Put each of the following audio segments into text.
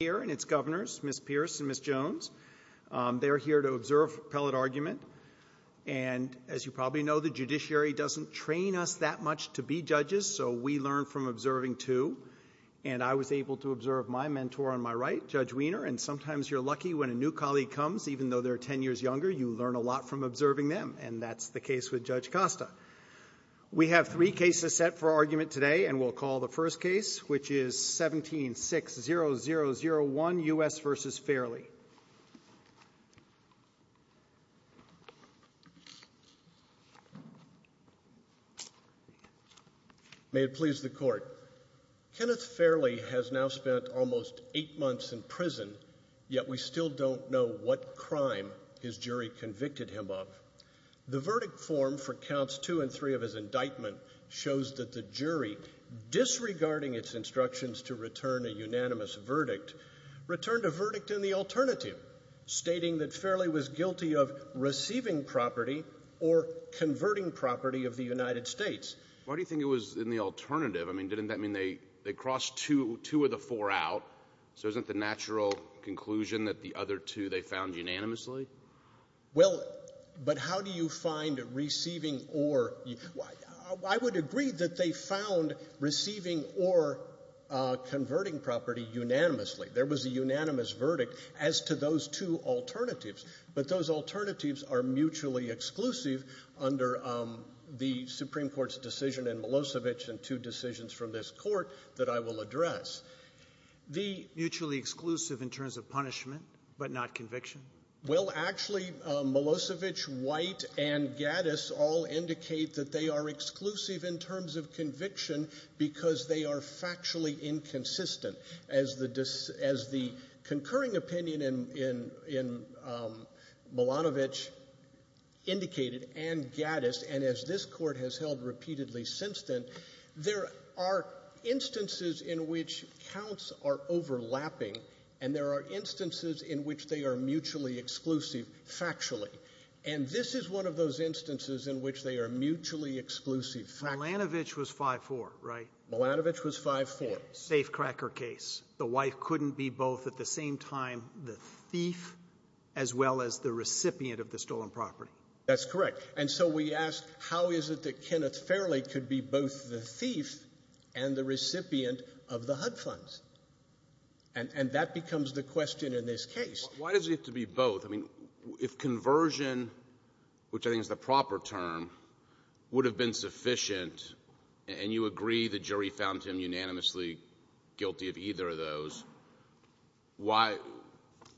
here and its governors, Ms. Pierce and Ms. Jones. They're here to observe appellate argument. And as you probably know, the judiciary doesn't train us that much to be judges, so we learn from observing, too. And I was able to observe my mentor on my right, Judge Wiener, and sometimes you're lucky when a new colleague comes, even though they're 10 years younger, you learn a lot from observing them, and that's the case with Judge Costa. We have three cases set for argument today, and we'll call the first case, which is 17-60001, U.S. v. Fairley. May it please the Court. Kenneth Fairley has now spent almost eight months in prison, yet we still don't know what crime his jury convicted him of. The verdict form for counts two and three of his indictment shows that the jury, disregarding its instructions to return a unanimous verdict, returned a verdict in the alternative, stating that Fairley was guilty of receiving property or converting property of the United States. Why do you think it was in the alternative? I mean, didn't that mean they crossed two of the four out? So isn't the natural conclusion that the other two they found unanimously? Well, but how do you find receiving or — I would agree that they found receiving or converting property unanimously. There was a unanimous verdict as to those two alternatives, but those alternatives are mutually exclusive under the Supreme Court's decision and Milosevic and two decisions from this Court that I will address. The mutually exclusive in terms of punishment but not conviction? Well, actually, Milosevic, White, and Gaddis all indicate that they are exclusive in terms of conviction because they are factually inconsistent. As the — as the concurring opinion in — in — in Milanovic indicated and Gaddis, and as this Court has held repeatedly since then, there are instances in which counts are overlapping, and there are instances in which they are mutually exclusive factually. And this is one of those instances in which they are mutually exclusive factually. Milanovic was 5-4, right? Milanovic was 5-4. Safecracker case. The wife couldn't be both at the same time the thief as well as the recipient of the stolen property. That's correct. And so we ask, how is it that Kenneth Fairley could be both the thief and the recipient of the HUD funds? And — and that becomes the question in this case. Why does it have to be both? I mean, if conversion, which I think is the proper term, would have been sufficient, and you agree the jury found him unanimously guilty of either of those, why —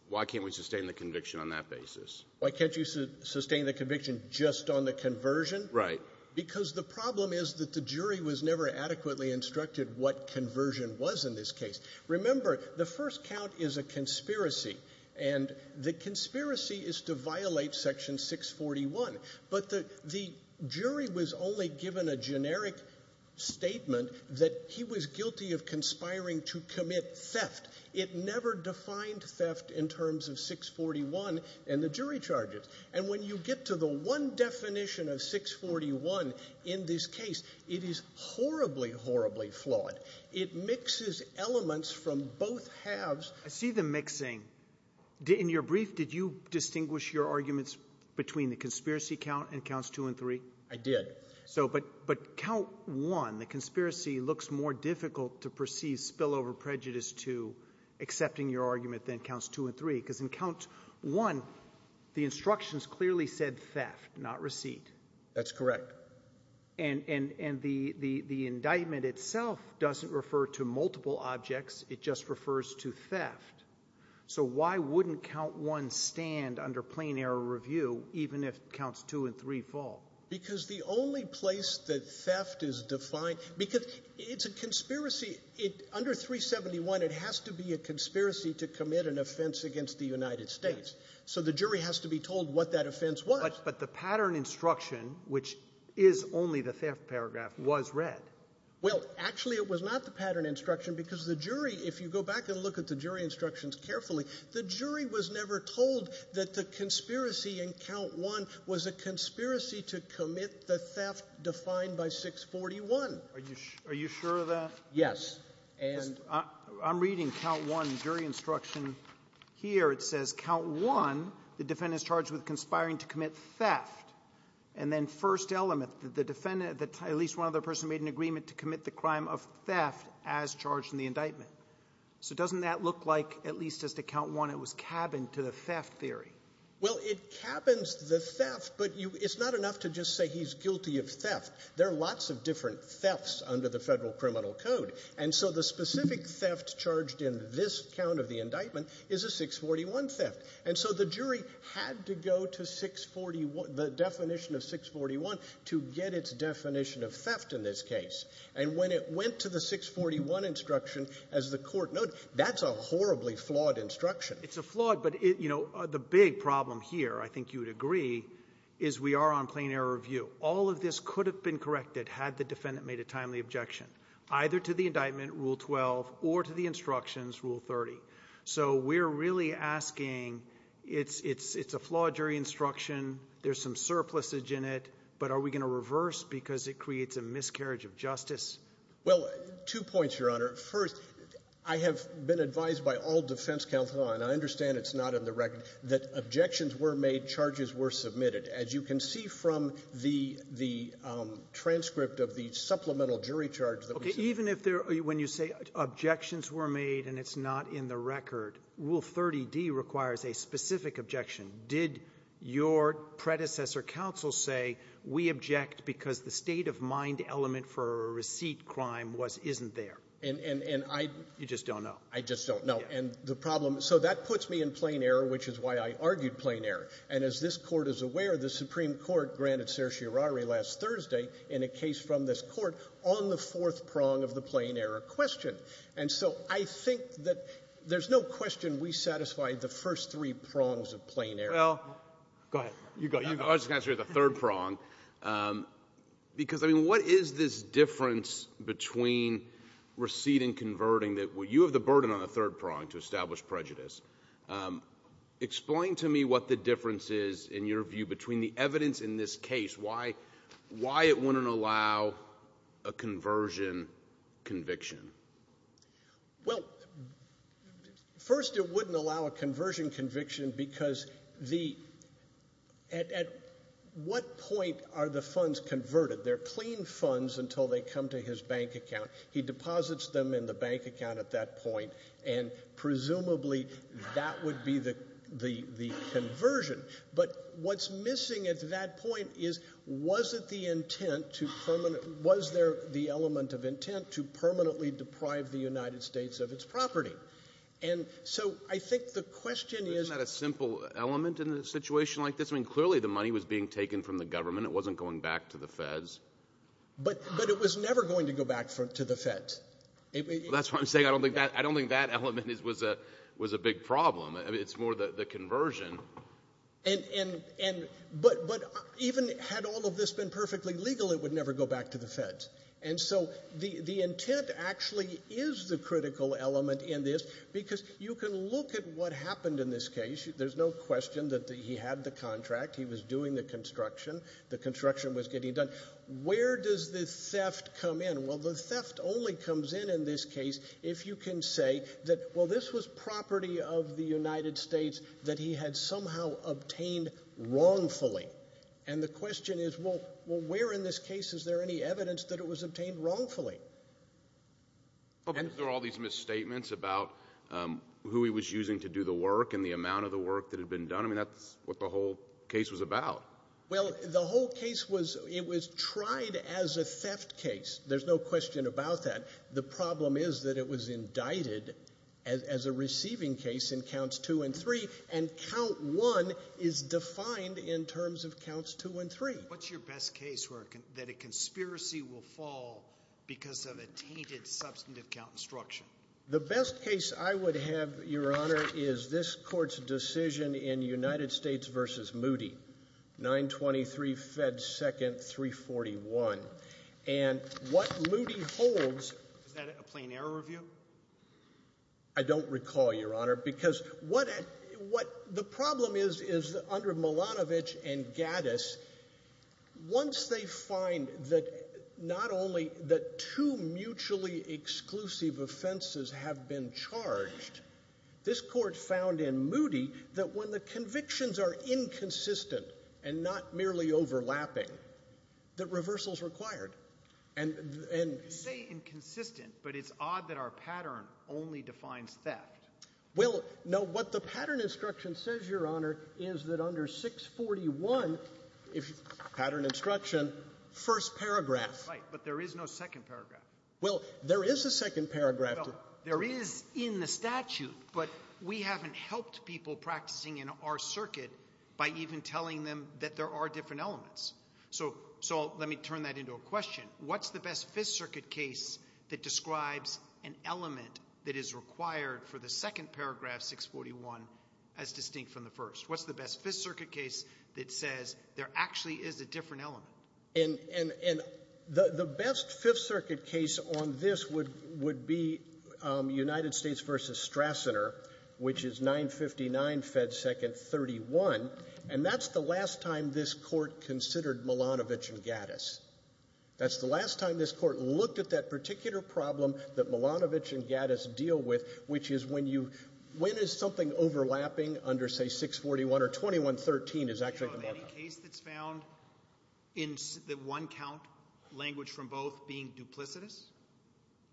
why can't we sustain the conviction on that basis? Why can't you sustain the conviction just on the conversion? Right. Because the problem is that the jury was never adequately instructed what conversion was in this case. Remember, the first count is a conspiracy, and the conspiracy is to violate Section 641. But the — the jury was only given a generic statement that he was guilty of And when you get to the one definition of 641 in this case, it is horribly, horribly flawed. It mixes elements from both halves. I see the mixing. In your brief, did you distinguish your arguments between the conspiracy count and counts 2 and 3? I did. So — but count 1, the conspiracy looks more difficult to perceive spillover prejudice to accepting your argument than counts 2 and 3, because in count 1, the instructions clearly said theft, not receipt. That's correct. And — and the — the indictment itself doesn't refer to multiple objects. It just refers to theft. So why wouldn't count 1 stand under plain error review, even if counts 2 and 3 fall? Because the only place that theft is defined — because it's a conspiracy. It — under 371, it has to be a conspiracy to commit an offense against the United States. So the jury has to be told what that offense was. But the pattern instruction, which is only the theft paragraph, was read. Well, actually, it was not the pattern instruction, because the jury — if you go back and look at the jury instructions carefully, the jury was never told that the conspiracy in count 1 was a conspiracy to commit the theft defined by 641. Yes. And — I'm reading count 1 jury instruction here. It says, count 1, the defendant is charged with conspiring to commit theft. And then first element, the defendant — at least one other person made an agreement to commit the crime of theft as charged in the indictment. So doesn't that look like, at least as to count 1, it was cabined to the theft theory? Well, it cabins the theft, but you — it's not enough to just say he's guilty of theft. There are lots of different thefts under the Federal Criminal Code. And so the specific theft charged in this count of the indictment is a 641 theft. And so the jury had to go to 641 — the definition of 641 to get its definition of theft in this case. And when it went to the 641 instruction, as the Court noted, that's a horribly flawed instruction. It's a flawed — but, you know, the big problem here, I think you would agree, is we are on plain error view. All of this could have been corrected had the defendant made a timely objection, either to the indictment, Rule 12, or to the instructions, Rule 30. So we're really asking, it's a flawed jury instruction, there's some surplusage in it, but are we going to reverse because it creates a miscarriage of justice? Well, two points, Your Honor. First, I have been advised by all defense counsel, and I understand it's not in the record, that objections were made, charges were submitted. As you can see from the transcript of the supplemental jury charge that was — Okay. Even if there — when you say objections were made and it's not in the record, Rule 30d requires a specific objection. Did your predecessor counsel say we object because the state-of-mind element for a receipt crime was — isn't there? And I — You just don't know. I just don't know. And the problem — so that puts me in plain error, which is why I argued plain error. And as this Court is aware, the Supreme Court granted certiorari last Thursday in a case from this Court on the fourth prong of the plain error question. And so I think that there's no question we satisfied the first three prongs of plain error. Well — Go ahead. You go. I was just going to say the third prong, because, I mean, what is this difference between receipt and converting that — well, you have the burden on the third prong to the difference is, in your view, between the evidence in this case, why it wouldn't allow a conversion conviction? Well, first, it wouldn't allow a conversion conviction because the — at what point are the funds converted? They're clean funds until they come to his bank account. He deposits them in the bank account at that point, and presumably that would be the conversion. But what's missing at that point is, was it the intent to — was there the element of intent to permanently deprive the United States of its property? And so I think the question is — Isn't that a simple element in a situation like this? I mean, clearly, the money was being taken from the government. It wasn't going back to the feds. But it was never going to go back to the feds. That's what I'm saying. I don't think that element was a big problem. I mean, it's more the conversion. But even had all of this been perfectly legal, it would never go back to the feds. And so the intent actually is the critical element in this, because you can look at what happened in this case. There's no question that he had the contract. He was doing the construction. The construction was getting done. Where does the theft come in? Well, the theft only comes in in this case if you can say that, well, this was property of the United States that he had somehow obtained wrongfully. And the question is, well, where in this case is there any evidence that it was obtained wrongfully? And is there all these misstatements about who he was using to do the work and the amount of the work that had been done? I mean, that's what the whole case was about. Well, the whole case was it was tried as a theft case. There's no question about that. The problem is that it was indicted as a receiving case in counts two and three. And count one is defined in terms of counts two and three. What's your best case where that a conspiracy will fall because of a tainted substantive count instruction? The best case I would have, Your Honor, is this court's decision in United States versus Moody. 923 Fed 2nd, 341. And what Moody holds. Is that a plain error review? I don't recall, Your Honor, because what what the problem is, is under Milanovic and Gaddis. Once they find that not only that two mutually exclusive offenses have been charged, this Court found in Moody that when the convictions are inconsistent and not merely overlapping, that reversal is required. You say inconsistent, but it's odd that our pattern only defines theft. Well, no. What the pattern instruction says, Your Honor, is that under 641, if pattern instruction, first paragraph. Right. But there is no second paragraph. Well, there is a second paragraph. There is in the statute, but we haven't helped people practicing in our circuit by even telling them that there are different elements. So so let me turn that into a question. What's the best Fifth Circuit case that describes an element that is required for the second paragraph 641 as distinct from the first? What's the best Fifth Circuit case that says there actually is a different element? And the best Fifth Circuit case on this would be United States v. Strassener, which is 959 Fed. 2nd. 31. And that's the last time this Court considered Milanovic and Gaddis. That's the last time this Court looked at that particular problem that Milanovic and Gaddis deal with, which is when you, when is something overlapping under, say, 641 or 21. 13 is actually the markup. A case that's found in the one count language from both being duplicitous?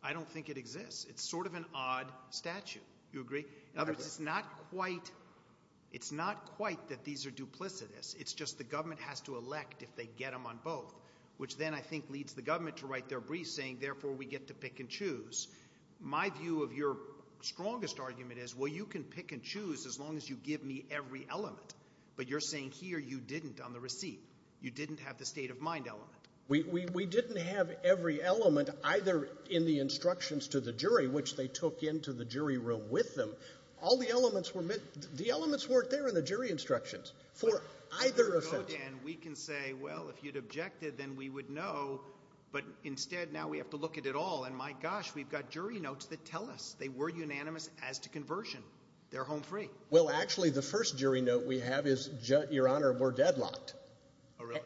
I don't think it exists. It's sort of an odd statute. You agree? In other words, it's not quite, it's not quite that these are duplicitous. It's just the government has to elect if they get them on both, which then I think leads the government to write their brief saying, therefore, we get to pick and choose. My view of your strongest argument is, well, you can pick and choose as long as you give me every element. But you're saying here you didn't on the receipt. You didn't have the state of mind element. We, we, we didn't have every element either in the instructions to the jury, which they took into the jury room with them. All the elements were, the elements weren't there in the jury instructions for either offense. And we can say, well, if you'd objected, then we would know. But instead, now we have to look at it all. And my gosh, we've got jury notes that tell us they were unanimous as to conversion. They're home free. Well, actually, the first jury note we have is, Your Honor, we're deadlocked.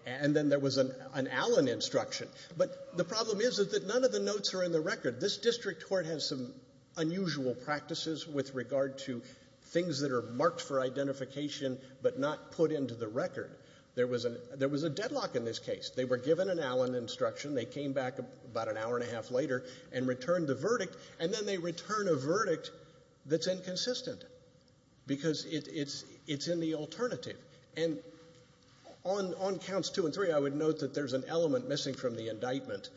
And then there was an Allen instruction. But the problem is that none of the notes are in the record. This district court has some unusual practices with regard to things that are marked for identification but not put into the record. There was a, there was a deadlock in this case. They were given an Allen instruction. They came back about an hour and a half later and returned the verdict. And then they return a verdict that's inconsistent. Because it's in the alternative. And on counts two and three, I would note that there's an element missing from the indictment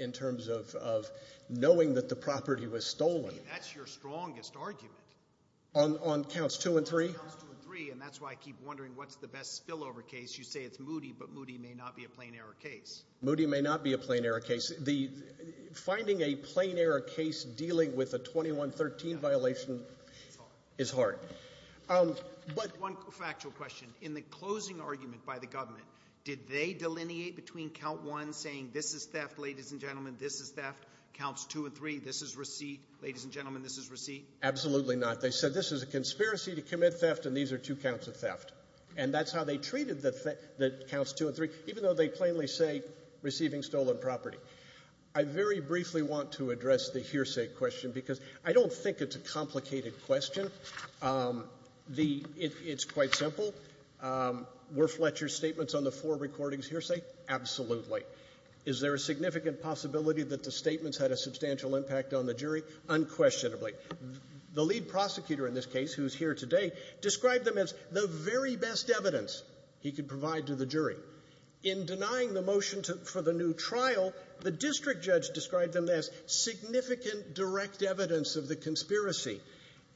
in terms of knowing that the property was stolen. That's your strongest argument. On counts two and three? On counts two and three. And that's why I keep wondering, what's the best spillover case? You say it's Moody, but Moody may not be a plain error case. Moody may not be a plain error case. Finding a plain error case dealing with a 2113 violation is hard. But one factual question. In the closing argument by the government, did they delineate between count one saying, this is theft, ladies and gentlemen, this is theft, counts two and three, this is receipt, ladies and gentlemen, this is receipt? Absolutely not. They said this is a conspiracy to commit theft and these are two counts of theft. And that's how they treated the counts two and three, even though they plainly say receiving stolen property. I very briefly want to address the hearsay question because I don't think it's a complicated question. The — it's quite simple. Were Fletcher's statements on the floor recordings hearsay? Absolutely. Is there a significant possibility that the statements had a substantial impact on the jury? Unquestionably. The lead prosecutor in this case, who's here today, described them as the very best evidence he could provide to the jury. In denying the motion to — for the new trial, the district judge described them as significant direct evidence of the conspiracy.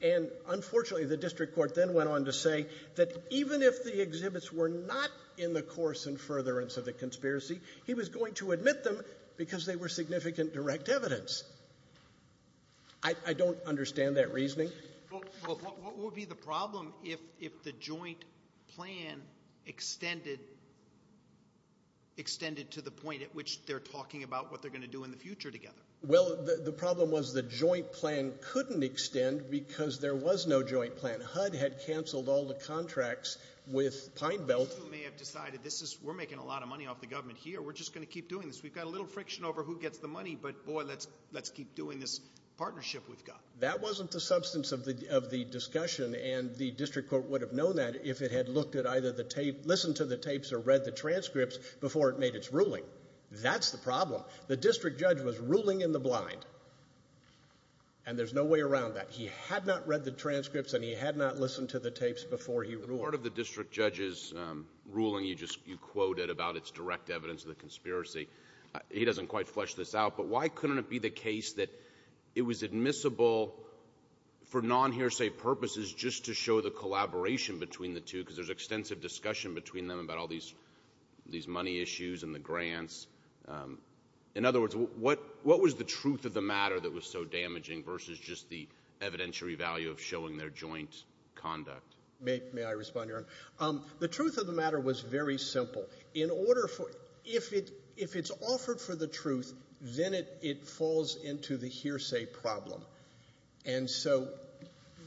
And unfortunately, the district court then went on to say that even if the exhibits were not in the course and furtherance of the conspiracy, he was going to admit them because they were significant direct evidence. I don't understand that reasoning. What would be the problem if the joint plan extended to the point at which they're talking about what they're going to do in the future together? Well, the problem was the joint plan couldn't extend because there was no joint plan. HUD had canceled all the contracts with Pine Belt. You may have decided this is — we're making a lot of money off the government here. We're just going to keep doing this. We've got a little friction over who gets the money, but boy, let's keep doing this partnership we've got. That wasn't the substance of the discussion, and the district court would have known that if it had looked at either the tape — listened to the tapes or read the transcripts before it made its ruling. That's the problem. The district judge was ruling in the blind, and there's no way around that. He had not read the transcripts, and he had not listened to the tapes before he ruled. The part of the district judge's ruling you just — you quoted about its direct evidence of the conspiracy, he doesn't quite flesh this out, but why couldn't it be the case that it was admissible for non-hearsay purposes just to show the collaboration between the two, because there's extensive discussion between them about all these money issues and the grants. In other words, what was the truth of the matter that was so damaging versus just the evidentiary value of showing their joint conduct? May I respond, Your Honor? The truth of the matter was very simple. In order for — if it — if it's offered for the truth, then it — it falls into the hearsay problem. And so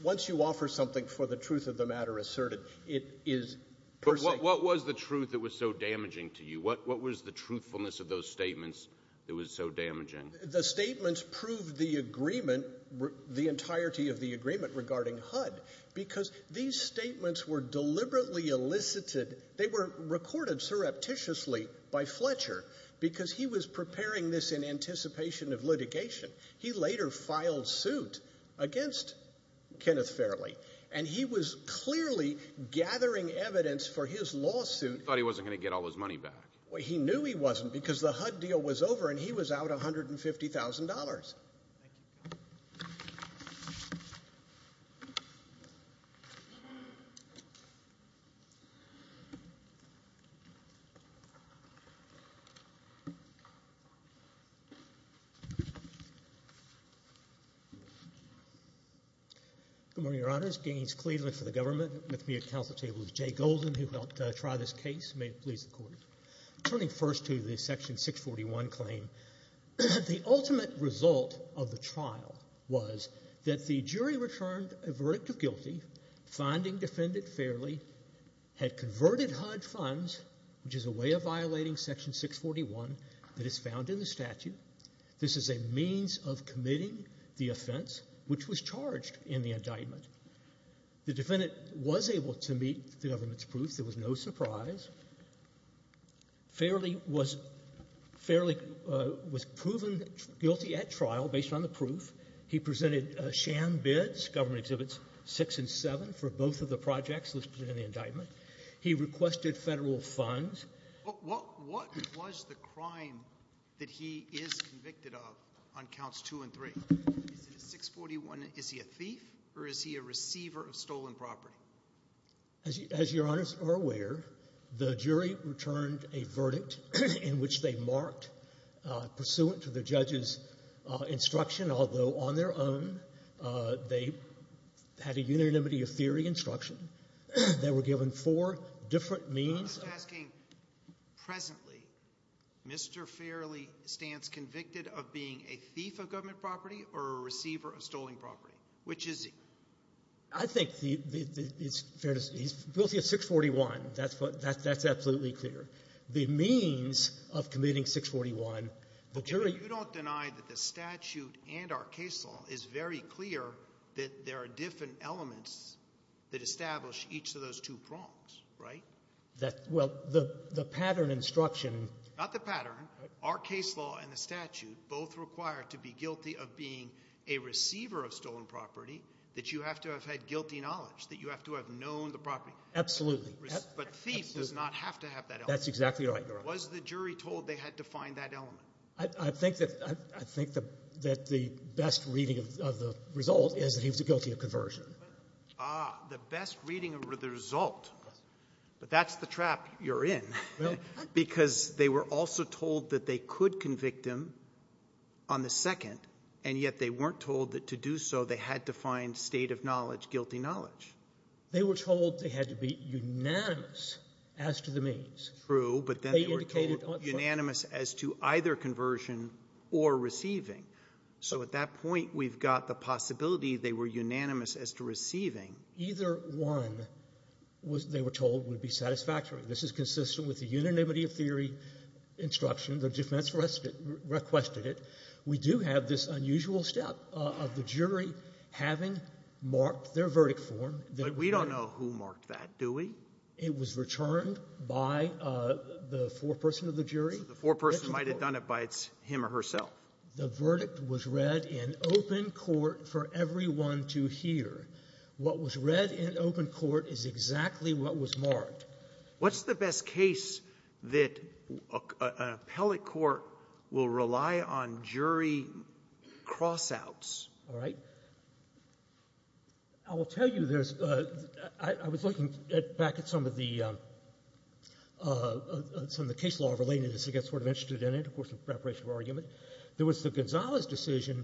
once you offer something for the truth of the matter asserted, it is — But what was the truth that was so damaging to you? What was the truthfulness of those statements that was so damaging? The statements proved the agreement — the entirety of the agreement regarding HUD, because these statements were deliberately elicited. They were recorded surreptitiously by Fletcher, because he was preparing this in anticipation of litigation. He later filed suit against Kenneth Fairley, and he was clearly gathering evidence for his lawsuit — Thought he wasn't going to get all his money back. He knew he wasn't, because the HUD deal was over, and he was out $150,000. Thank you. Good morning, Your Honors. Gaines Cleveland for the government. With me at the council table is Jay Golden, who helped try this case. May it please the Court. Turning first to the Section 641 claim, the ultimate result of the trial was that the jury returned a verdict of guilty, finding defendant Fairley had converted HUD funds, which is a way of violating Section 641 that is found in the statute. This is a means of committing the offense, which was charged in the indictment. The defendant was able to meet the government's proof. There was no surprise. Fairley was — Fairley was proven guilty at trial based on the proof. He presented sham bids, government Exhibits 6 and 7, for both of the projects that was presented in the indictment. He requested Federal funds. What was the crime that he is convicted of on counts 2 and 3? Is it a 641 — is he a thief, or is he a receiver of stolen property? As your Honors are aware, the jury returned a verdict in which they marked, pursuant to the judge's instruction, although on their own, they had a unanimity of theory instruction. They were given four different means — I'm just asking, presently, Mr. Fairley stands convicted of being a thief of government property or a receiver of stolen property? Which is he? I think the — it's fair to say he's guilty of 641. That's what — that's absolutely clear. The means of committing 641, the jury — But you don't deny that the statute and our case law is very clear that there are different elements that establish each of those two prongs, right? That — well, the pattern instruction — Not the pattern. Our case law and the statute both require to be guilty of being a receiver of stolen property, that you have to have had guilty knowledge, that you have to have known the property. Absolutely. But thief does not have to have that element. That's exactly right, Your Honor. Was the jury told they had to find that element? I think that — I think that the best reading of the result is that he was guilty of conversion. Ah, the best reading of the result. But that's the trap you're in, because they were also told that they could convict him on the second, and yet they weren't told that to do so they had to find state-of-knowledge guilty knowledge. They were told they had to be unanimous as to the means. True, but then they were told unanimous as to either conversion or receiving. So at that point, we've got the possibility they were unanimous as to receiving. Either one, they were told, would be satisfactory. This is consistent with the unanimity of theory instruction. The defense requested it. We do have this unusual step of the jury having marked their verdict form. But we don't know who marked that, do we? It was returned by the foreperson of the jury. So the foreperson might have done it by him or herself. The verdict was read in open court for everyone to hear. What was read in open court is exactly what was marked. What's the best case that an appellate court will rely on jury cross-outs? All right. I will tell you there's a — I was looking back at some of the — some of the case law relating to this. I got sort of interested in it, of course, in preparation for argument. There was the Gonzales decision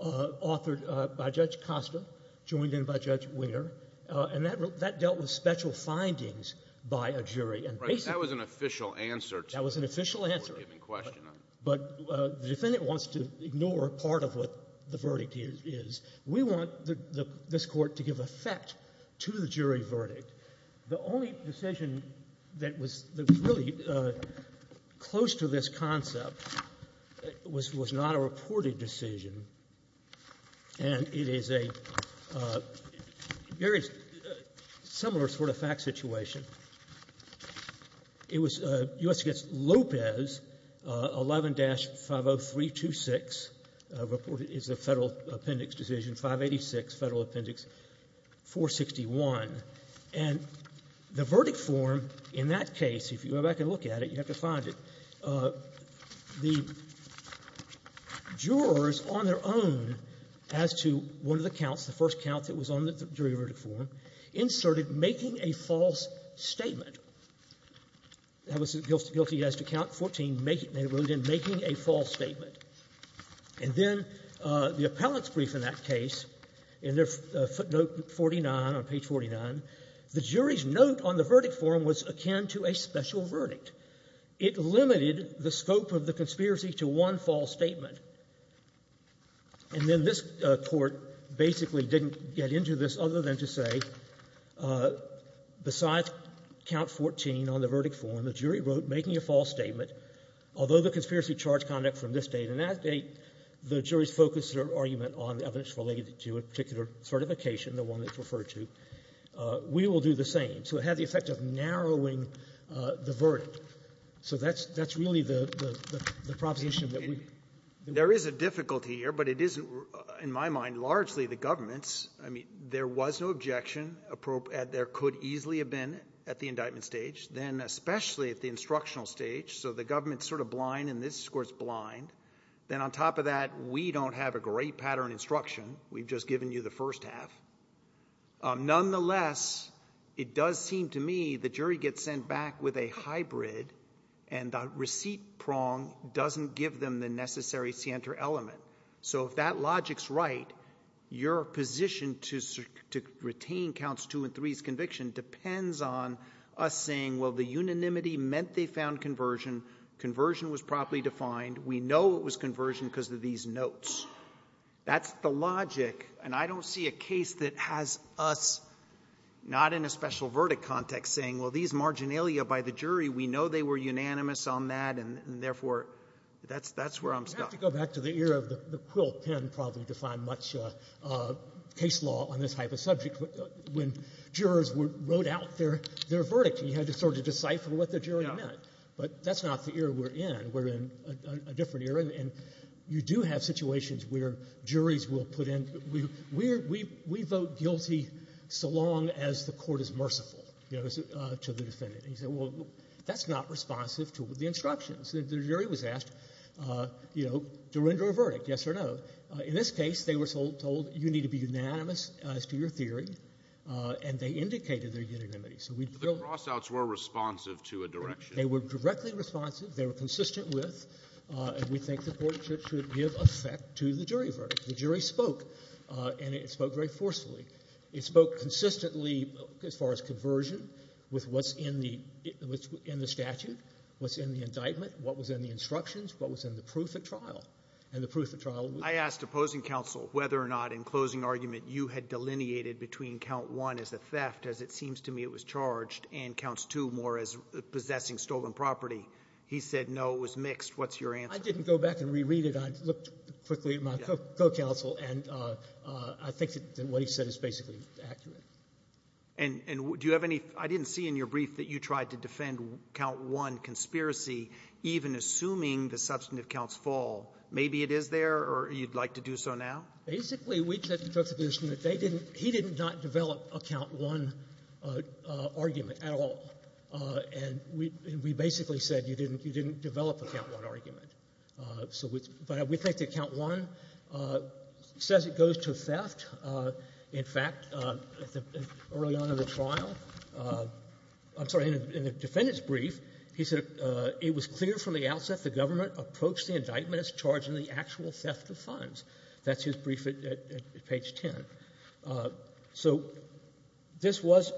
authored by Judge Costa, joined in by Judge Winger, and that dealt with special findings by a jury. And basically — That was an official answer to the court giving question on it. That was an official answer. But the defendant wants to ignore part of what the verdict is. We want this Court to give effect to the jury verdict. The only decision that was really close to this concept was not a reported decision. And it is a very similar sort of fact situation. It was U.S. against Lopez, 11-50326, reported as a Federal Appendix decision, 586 Federal Appendix 461. And the verdict form in that case, if you go back and look at it, you have to find it, the jurors on their own, as to one of the counts, the first count that was on the jury verdict form, inserted, making a false statement. That was guilty as to count 14, they wrote in, making a false statement. And then the appellant's brief in that case, in their footnote 49, on page 49, the jury's note on the verdict form was akin to a special verdict. It limited the scope of the conspiracy to one false statement. And then this Court basically didn't get into this other than to say, besides count 14 on the verdict form, the jury wrote, making a false statement, although the conspiracy charged conduct from this date and that date, the jury's focus or argument on evidence related to a particular certification, the one that's referred to, we will do the same. So it had the effect of narrowing the verdict. So that's really the proposition that we— And there is a difficulty here, but it isn't, in my mind, largely the government's. I mean, there was no objection. There could easily have been at the indictment stage, then especially at the instructional stage. So the government's sort of blind and this Court's blind. Then on top of that, we don't have a great pattern instruction. We've just given you the first half. Nonetheless, it does seem to me the jury gets sent back with a hybrid and the receipt prong doesn't give them the necessary scienter element. So if that logic's right, your position to retain counts two and three's conviction depends on us saying, well, the unanimity meant they found conversion. Conversion was properly defined. We know it was conversion because of these notes. That's the logic, and I don't see a case that has us not in a special verdict context saying, well, these marginalia by the jury, we know they were unanimous on that, and therefore, that's where I'm stuck. You have to go back to the era of the Quill pen probably defined much case law on this type of subject when jurors wrote out their verdict, and you had to sort of decipher what the jury meant. But that's not the era we're in. We're in a different era. And you do have situations where juries will put in, we vote guilty so long as the court is merciful to the defendant. And you say, well, that's not responsive to the instructions. The jury was asked to render a verdict, yes or no. In this case, they were told you need to be unanimous as to your theory, and they indicated their unanimity. So we feel the cross-outs were responsive to a direction. They were directly responsive. They were consistent with, and we think the court should give effect to the jury verdict. The jury spoke, and it spoke very forcefully. It spoke consistently as far as conversion with what's in the statute, what's in the indictment, what was in the instructions, what was in the proof at trial. And the proof at trial was... I asked opposing counsel whether or not in closing argument you had delineated between count one as a theft, as it seems to me it was charged, and counts two more as possessing stolen property. He said no. It was mixed. What's your answer? I didn't go back and reread it. I looked quickly at my co-counsel, and I think that what he said is basically accurate. And do you have any ---- I didn't see in your brief that you tried to defend count one conspiracy, even assuming the substantive counts fall. Maybe it is there, or you'd like to do so now? Basically, we took the position that they didn't ---- he did not develop a count one argument at all. And we basically said you didn't develop a count one argument. But we think that count one says it goes to theft. In fact, early on in the trial, I'm sorry, in the defendant's brief, he said it was clear from the outset the government approached the indictment as charging the actual theft of funds. That's his brief at page 10. So this was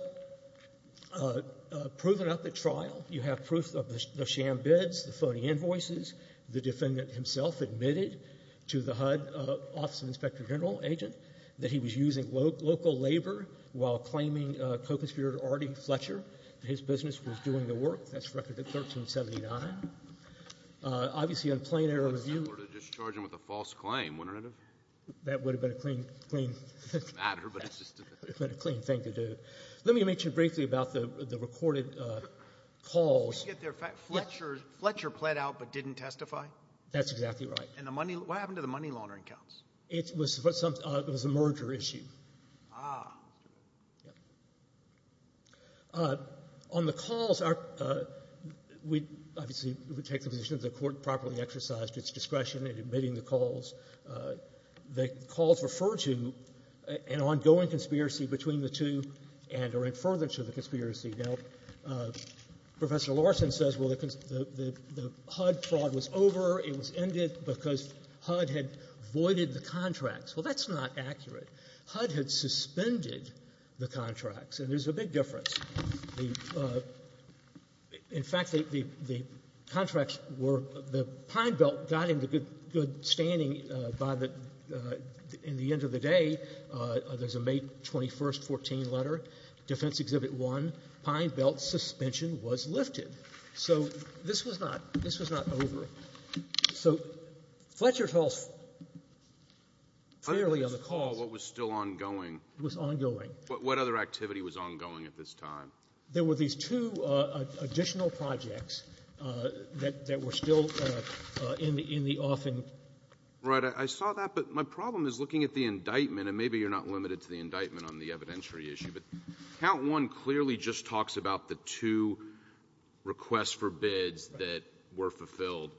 proven at the trial. You have proof of the sham bids, the phony invoices. The defendant himself admitted to the HUD Office of Inspector General agent that he was using local labor while claiming co-conspirator Artie Fletcher. His business was doing the work. That's record at 1379. Obviously, in plain error of view ---- That's similar to discharging with a false claim, wouldn't it have? That would have been a clean thing to do. Let me mention briefly about the recorded calls. Did you get the fact Fletcher pled out but didn't testify? That's exactly right. And what happened to the money laundering counts? It was a merger issue. On the calls, we obviously would take the position that the Court properly exercised its discretion in admitting the calls. The calls refer to an ongoing conspiracy between the two and are in further to the conspiracy. Now, Professor Larson says, well, the HUD fraud was over. It was ended because HUD had voided the contracts. Well, that's not accurate. HUD had suspended the contracts. And there's a big difference. In fact, the contracts were the Pine Belt got into good standing by the end of the day. There's a May 21, 14 letter, Defense Exhibit 1, Pine Belt suspension was lifted. So this was not over. So Fletcher tells fairly on the call what was still ongoing. It was ongoing. What other activity was ongoing at this time? There were these two additional projects that were still in the offing. Right. I saw that. But my problem is looking at the indictment, and maybe you're not limited to the indictment on the evidentiary issue, but Count 1 clearly just talks about the two requests for bids that were fulfilled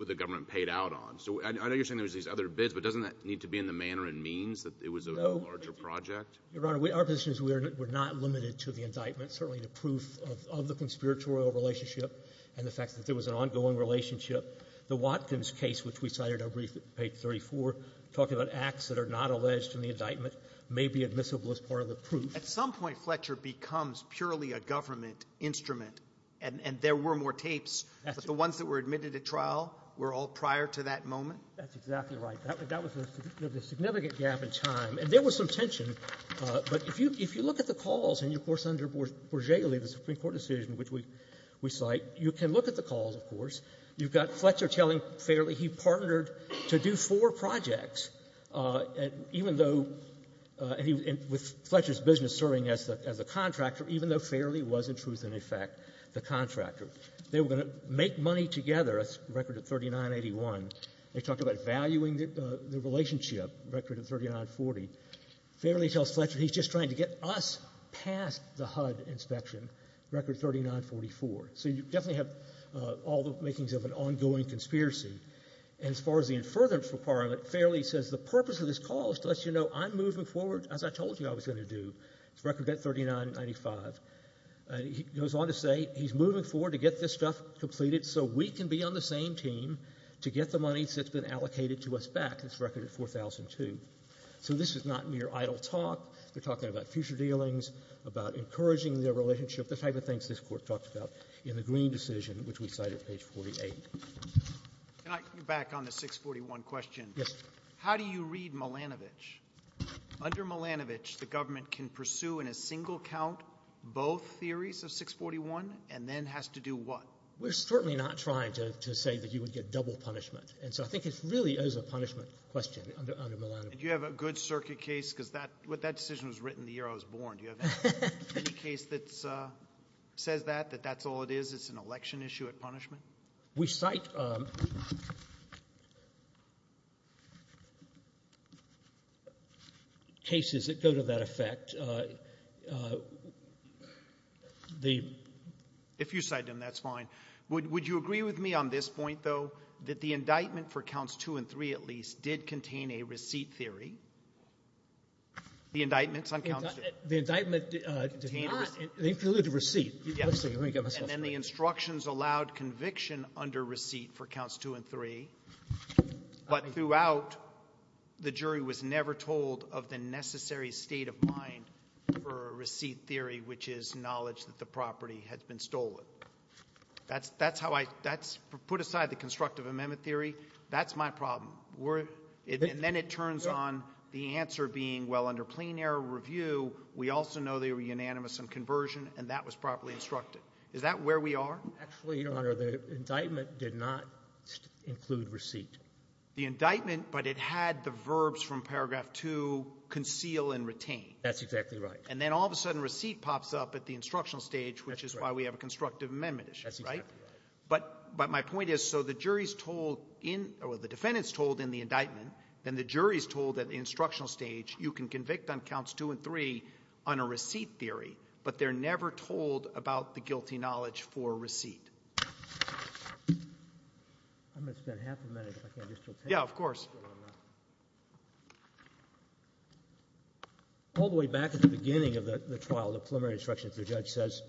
with the government paid out on. So I know you're saying there were these other bids, but doesn't that need to be in the manner and means that it was a larger project? Your Honor, our position is we're not limited to the indictment. Certainly the proof of the conspiratorial relationship and the fact that there was an ongoing relationship. The Watkins case, which we cited on page 34, talking about acts that are not alleged in the indictment, may be admissible as part of the proof. At some point, Fletcher becomes purely a government instrument. And there were more tapes, but the ones that were admitted at trial were all prior to that moment? That's exactly right. That was the significant gap in time. And there was some tension, but if you look at the calls and, of course, under Borgelli, the Supreme Court decision which we cite, you can look at the calls, of course. You've got Fletcher telling Fairley he partnered to do four projects, and even though he was in Fletcher's business serving as the contractor, even though Fairley was, in truth and effect, the contractor. They were going to make money together, a record of 3981. They talked about valuing the relationship, a record of 3940. Fairley tells Fletcher he's just trying to get us past the HUD inspection, a record of 3944. So you definitely have all the makings of an ongoing conspiracy. And as far as the inference requirement, Fairley says the purpose of this call is to let you know I'm moving forward, as I told you I was going to do. It's a record of 3995. He goes on to say he's moving forward to get this stuff completed so we can be on the same team to get the monies that's been allocated to us back. It's a record of 4002. So this is not mere idle talk. They're talking about future dealings, about encouraging their relationship, the type of things this Court talked about in the Green decision, which we cite at page 48. Can I get back on the 641 question? Yes. How do you read Milanovic? Under Milanovic, the government can pursue in a single count both theories of 641, and then has to do what? We're certainly not trying to say that you would get double punishment. And so I think it really is a punishment question under Milanovic. Do you have a good circuit case? Because that decision was written the year I was born. Do you have any case that says that, that that's all it is? It's an election issue at punishment? We cite cases that go to that effect. If you cite them, that's fine. Would you agree with me on this point, though, that the indictment for counts two and three, at least, did contain a receipt theory? The indictments on counts two? The indictment did not. They included a receipt. And then the instructions allowed conviction under receipt for counts two and three. But throughout, the jury was never told of the necessary state of mind for a receipt theory, which is knowledge that the property has been stolen. That's how I put aside the constructive amendment theory. That's my problem. And then it turns on the answer being, well, under plain error review, we also know they were unanimous on conversion, and that was properly instructed. Is that where we are? Actually, Your Honor, the indictment did not include receipt. The indictment, but it had the verbs from paragraph two, conceal and retain. That's exactly right. And then all of a sudden, receipt pops up at the instructional stage, which is why we have a constructive amendment issue, right? That's exactly right. But my point is, so the jury's told in, or the defendant's told in the indictment, then the jury's told at the instructional stage, you can convict on counts two and I'm going to spend half a minute, if I can, just to take a look. Yeah, of course. All the way back at the beginning of the trial, the preliminary instruction, if the judge says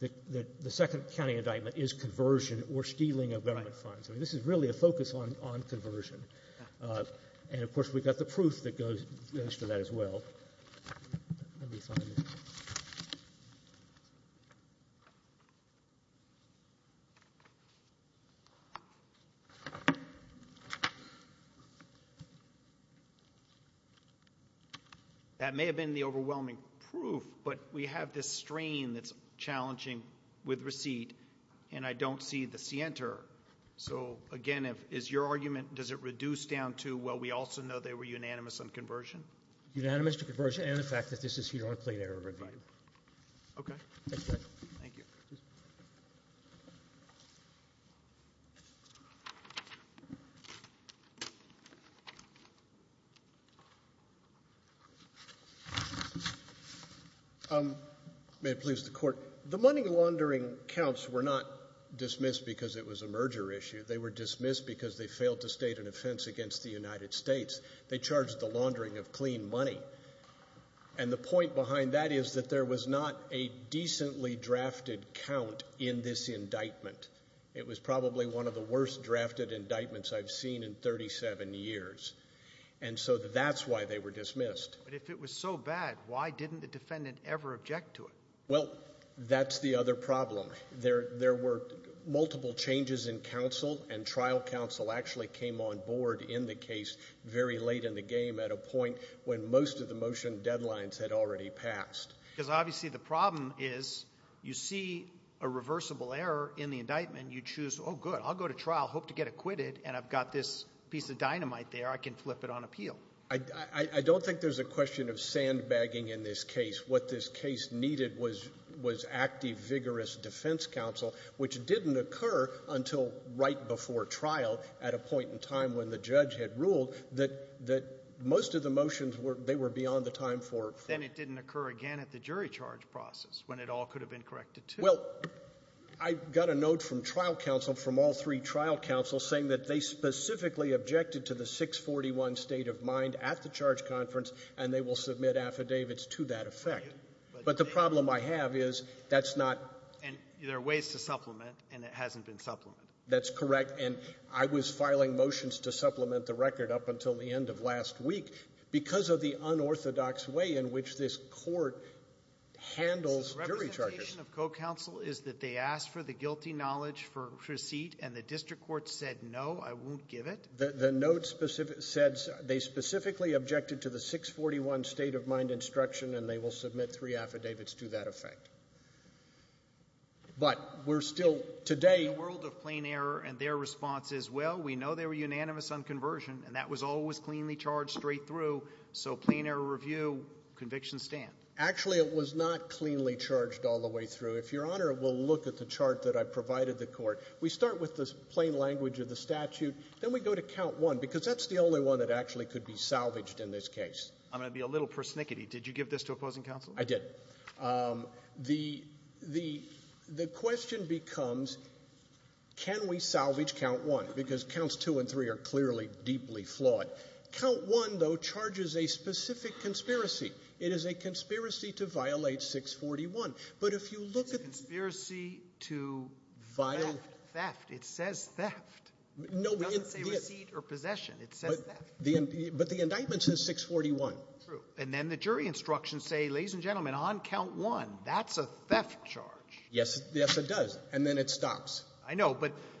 that the second county indictment is conversion or stealing of government funds. I mean, this is really a focus on conversion. And of course, we've got the proof that goes for that as well. That may have been the overwhelming proof, but we have this strain that's challenging with receipt, and I don't see the scienter. So again, if it's your argument, does it reduce down to, well, we also know they were unanimous on conversion? Unanimous to conversion and the fact that this is here on plain error review. Okay. Thank you. Okay. May it please the court. The money laundering counts were not dismissed because it was a merger issue. They were dismissed because they failed to state an offense against the United States. They charged the laundering of clean money. And the point behind that is that there was not a decently drafted count in this indictment. It was probably one of the worst drafted indictments I've seen in 37 years. And so that's why they were dismissed. But if it was so bad, why didn't the defendant ever object to it? Well, that's the other problem. There were multiple changes in counsel and trial counsel actually came on board in the point when most of the motion deadlines had already passed. Because obviously the problem is you see a reversible error in the indictment. You choose, oh good, I'll go to trial, hope to get acquitted. And I've got this piece of dynamite there. I can flip it on appeal. I don't think there's a question of sandbagging in this case. What this case needed was active, vigorous defense counsel, which didn't occur until right before trial at a point in time when the judge had ruled that most of the motions were, they were beyond the time for. Then it didn't occur again at the jury charge process when it all could have been corrected, too. Well, I got a note from trial counsel, from all three trial counsel, saying that they specifically objected to the 641 state of mind at the charge conference, and they will submit affidavits to that effect. But the problem I have is that's not. And there are ways to supplement, and it hasn't been supplemented. That's correct, and I was filing motions to supplement the record up until the end of last week because of the unorthodox way in which this court handles jury charges. The representation of co-counsel is that they asked for the guilty knowledge for receipt, and the district court said no, I won't give it. The note said they specifically objected to the 641 state of mind instruction, and they will submit three affidavits to that effect. But we're still, today. In the world of plain error and their responses, well, we know they were unanimous on conversion, and that was always cleanly charged straight through, so plain error review, conviction stand. Actually, it was not cleanly charged all the way through. If Your Honor will look at the chart that I provided the court, we start with the plain language of the statute, then we go to count one, because that's the only one that actually could be salvaged in this case. I'm going to be a little persnickety. Did you give this to opposing counsel? I did. The question becomes, can we salvage count one? Because counts two and three are clearly deeply flawed. Count one, though, charges a specific conspiracy. It is a conspiracy to violate 641. But if you look at the... It's a conspiracy to... Violate... Theft. Theft. It says theft. No. It doesn't say receipt or possession. It says theft. But the indictment says 641. True. And then the jury instructions say, ladies and gentlemen, on count one, that's a theft charge. Yes. Yes, it does. And then it stops. I know.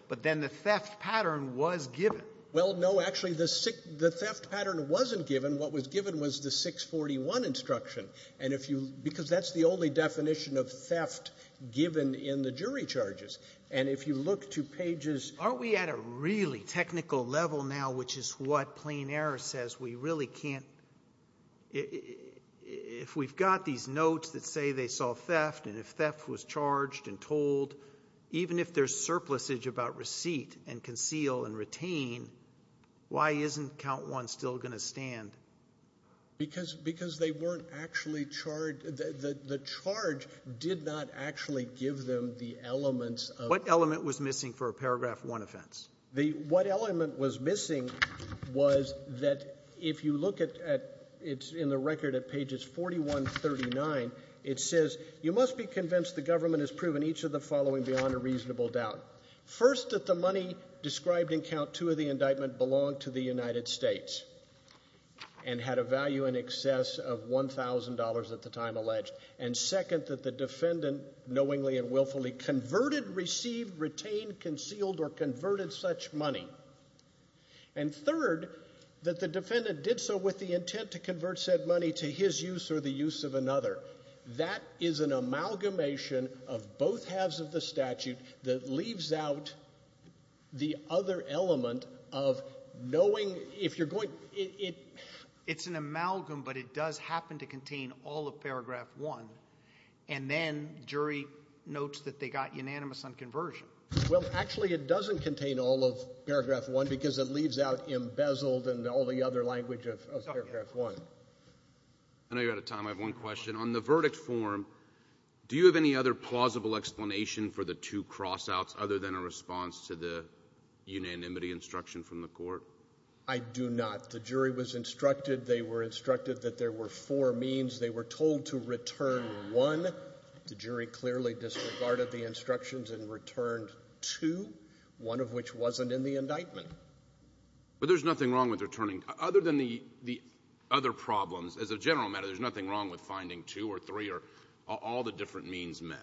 But then the theft pattern was given. Well, no. Actually, the theft pattern wasn't given. What was given was the 641 instruction. And if you... Because that's the only definition of theft given in the jury charges. And if you look to pages... Aren't we at a really technical level now, which is what plain error says? We really can't... If we've got these notes that say they saw theft and if theft was charged and told, even if there's surplusage about receipt and conceal and retain, why isn't count one still going to stand? Because they weren't actually charged... The charge did not actually give them the elements of... What element was missing for a paragraph one offense? What element was missing was that if you look at... It's in the record at pages 41-39. It says, you must be convinced the government has proven each of the following beyond a reasonable doubt. First, that the money described in count two of the indictment belonged to the United States and had a value in excess of $1,000 at the time alleged. And second, that the defendant knowingly and willfully converted, received, retained, concealed or converted such money. And third, that the defendant did so with the intent to convert said money to his use or the use of another. That is an amalgamation of both halves of the statute that leaves out the other element of knowing if you're going... It's an amalgam, but it does happen to contain all of paragraph one. And then jury notes that they got unanimous on conversion. Well, actually, it doesn't contain all of paragraph one because it leaves out embezzled and all the other language of paragraph one. I know you're out of time. I have one question. On the verdict form, do you have any other plausible explanation for the two crossouts other than a response to the unanimity instruction from the court? I do not. The jury was instructed. They were instructed that there were four means. They were told to return one. The jury clearly disregarded the instructions and returned two, one of which wasn't in the indictment. But there's nothing wrong with returning... Other than the other problems, as a general matter, there's nothing wrong with finding two or three or all the different means met.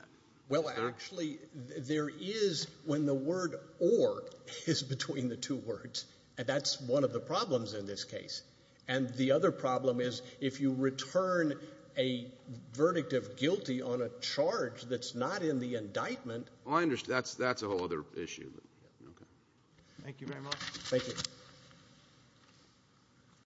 Well, actually, there is when the word or is between the two words. And that's one of the problems in this case. And the other problem is if you return a verdict of guilty on a charge that's not in the indictment... Well, I understand. That's a whole other issue. Thank you very much. Thank you.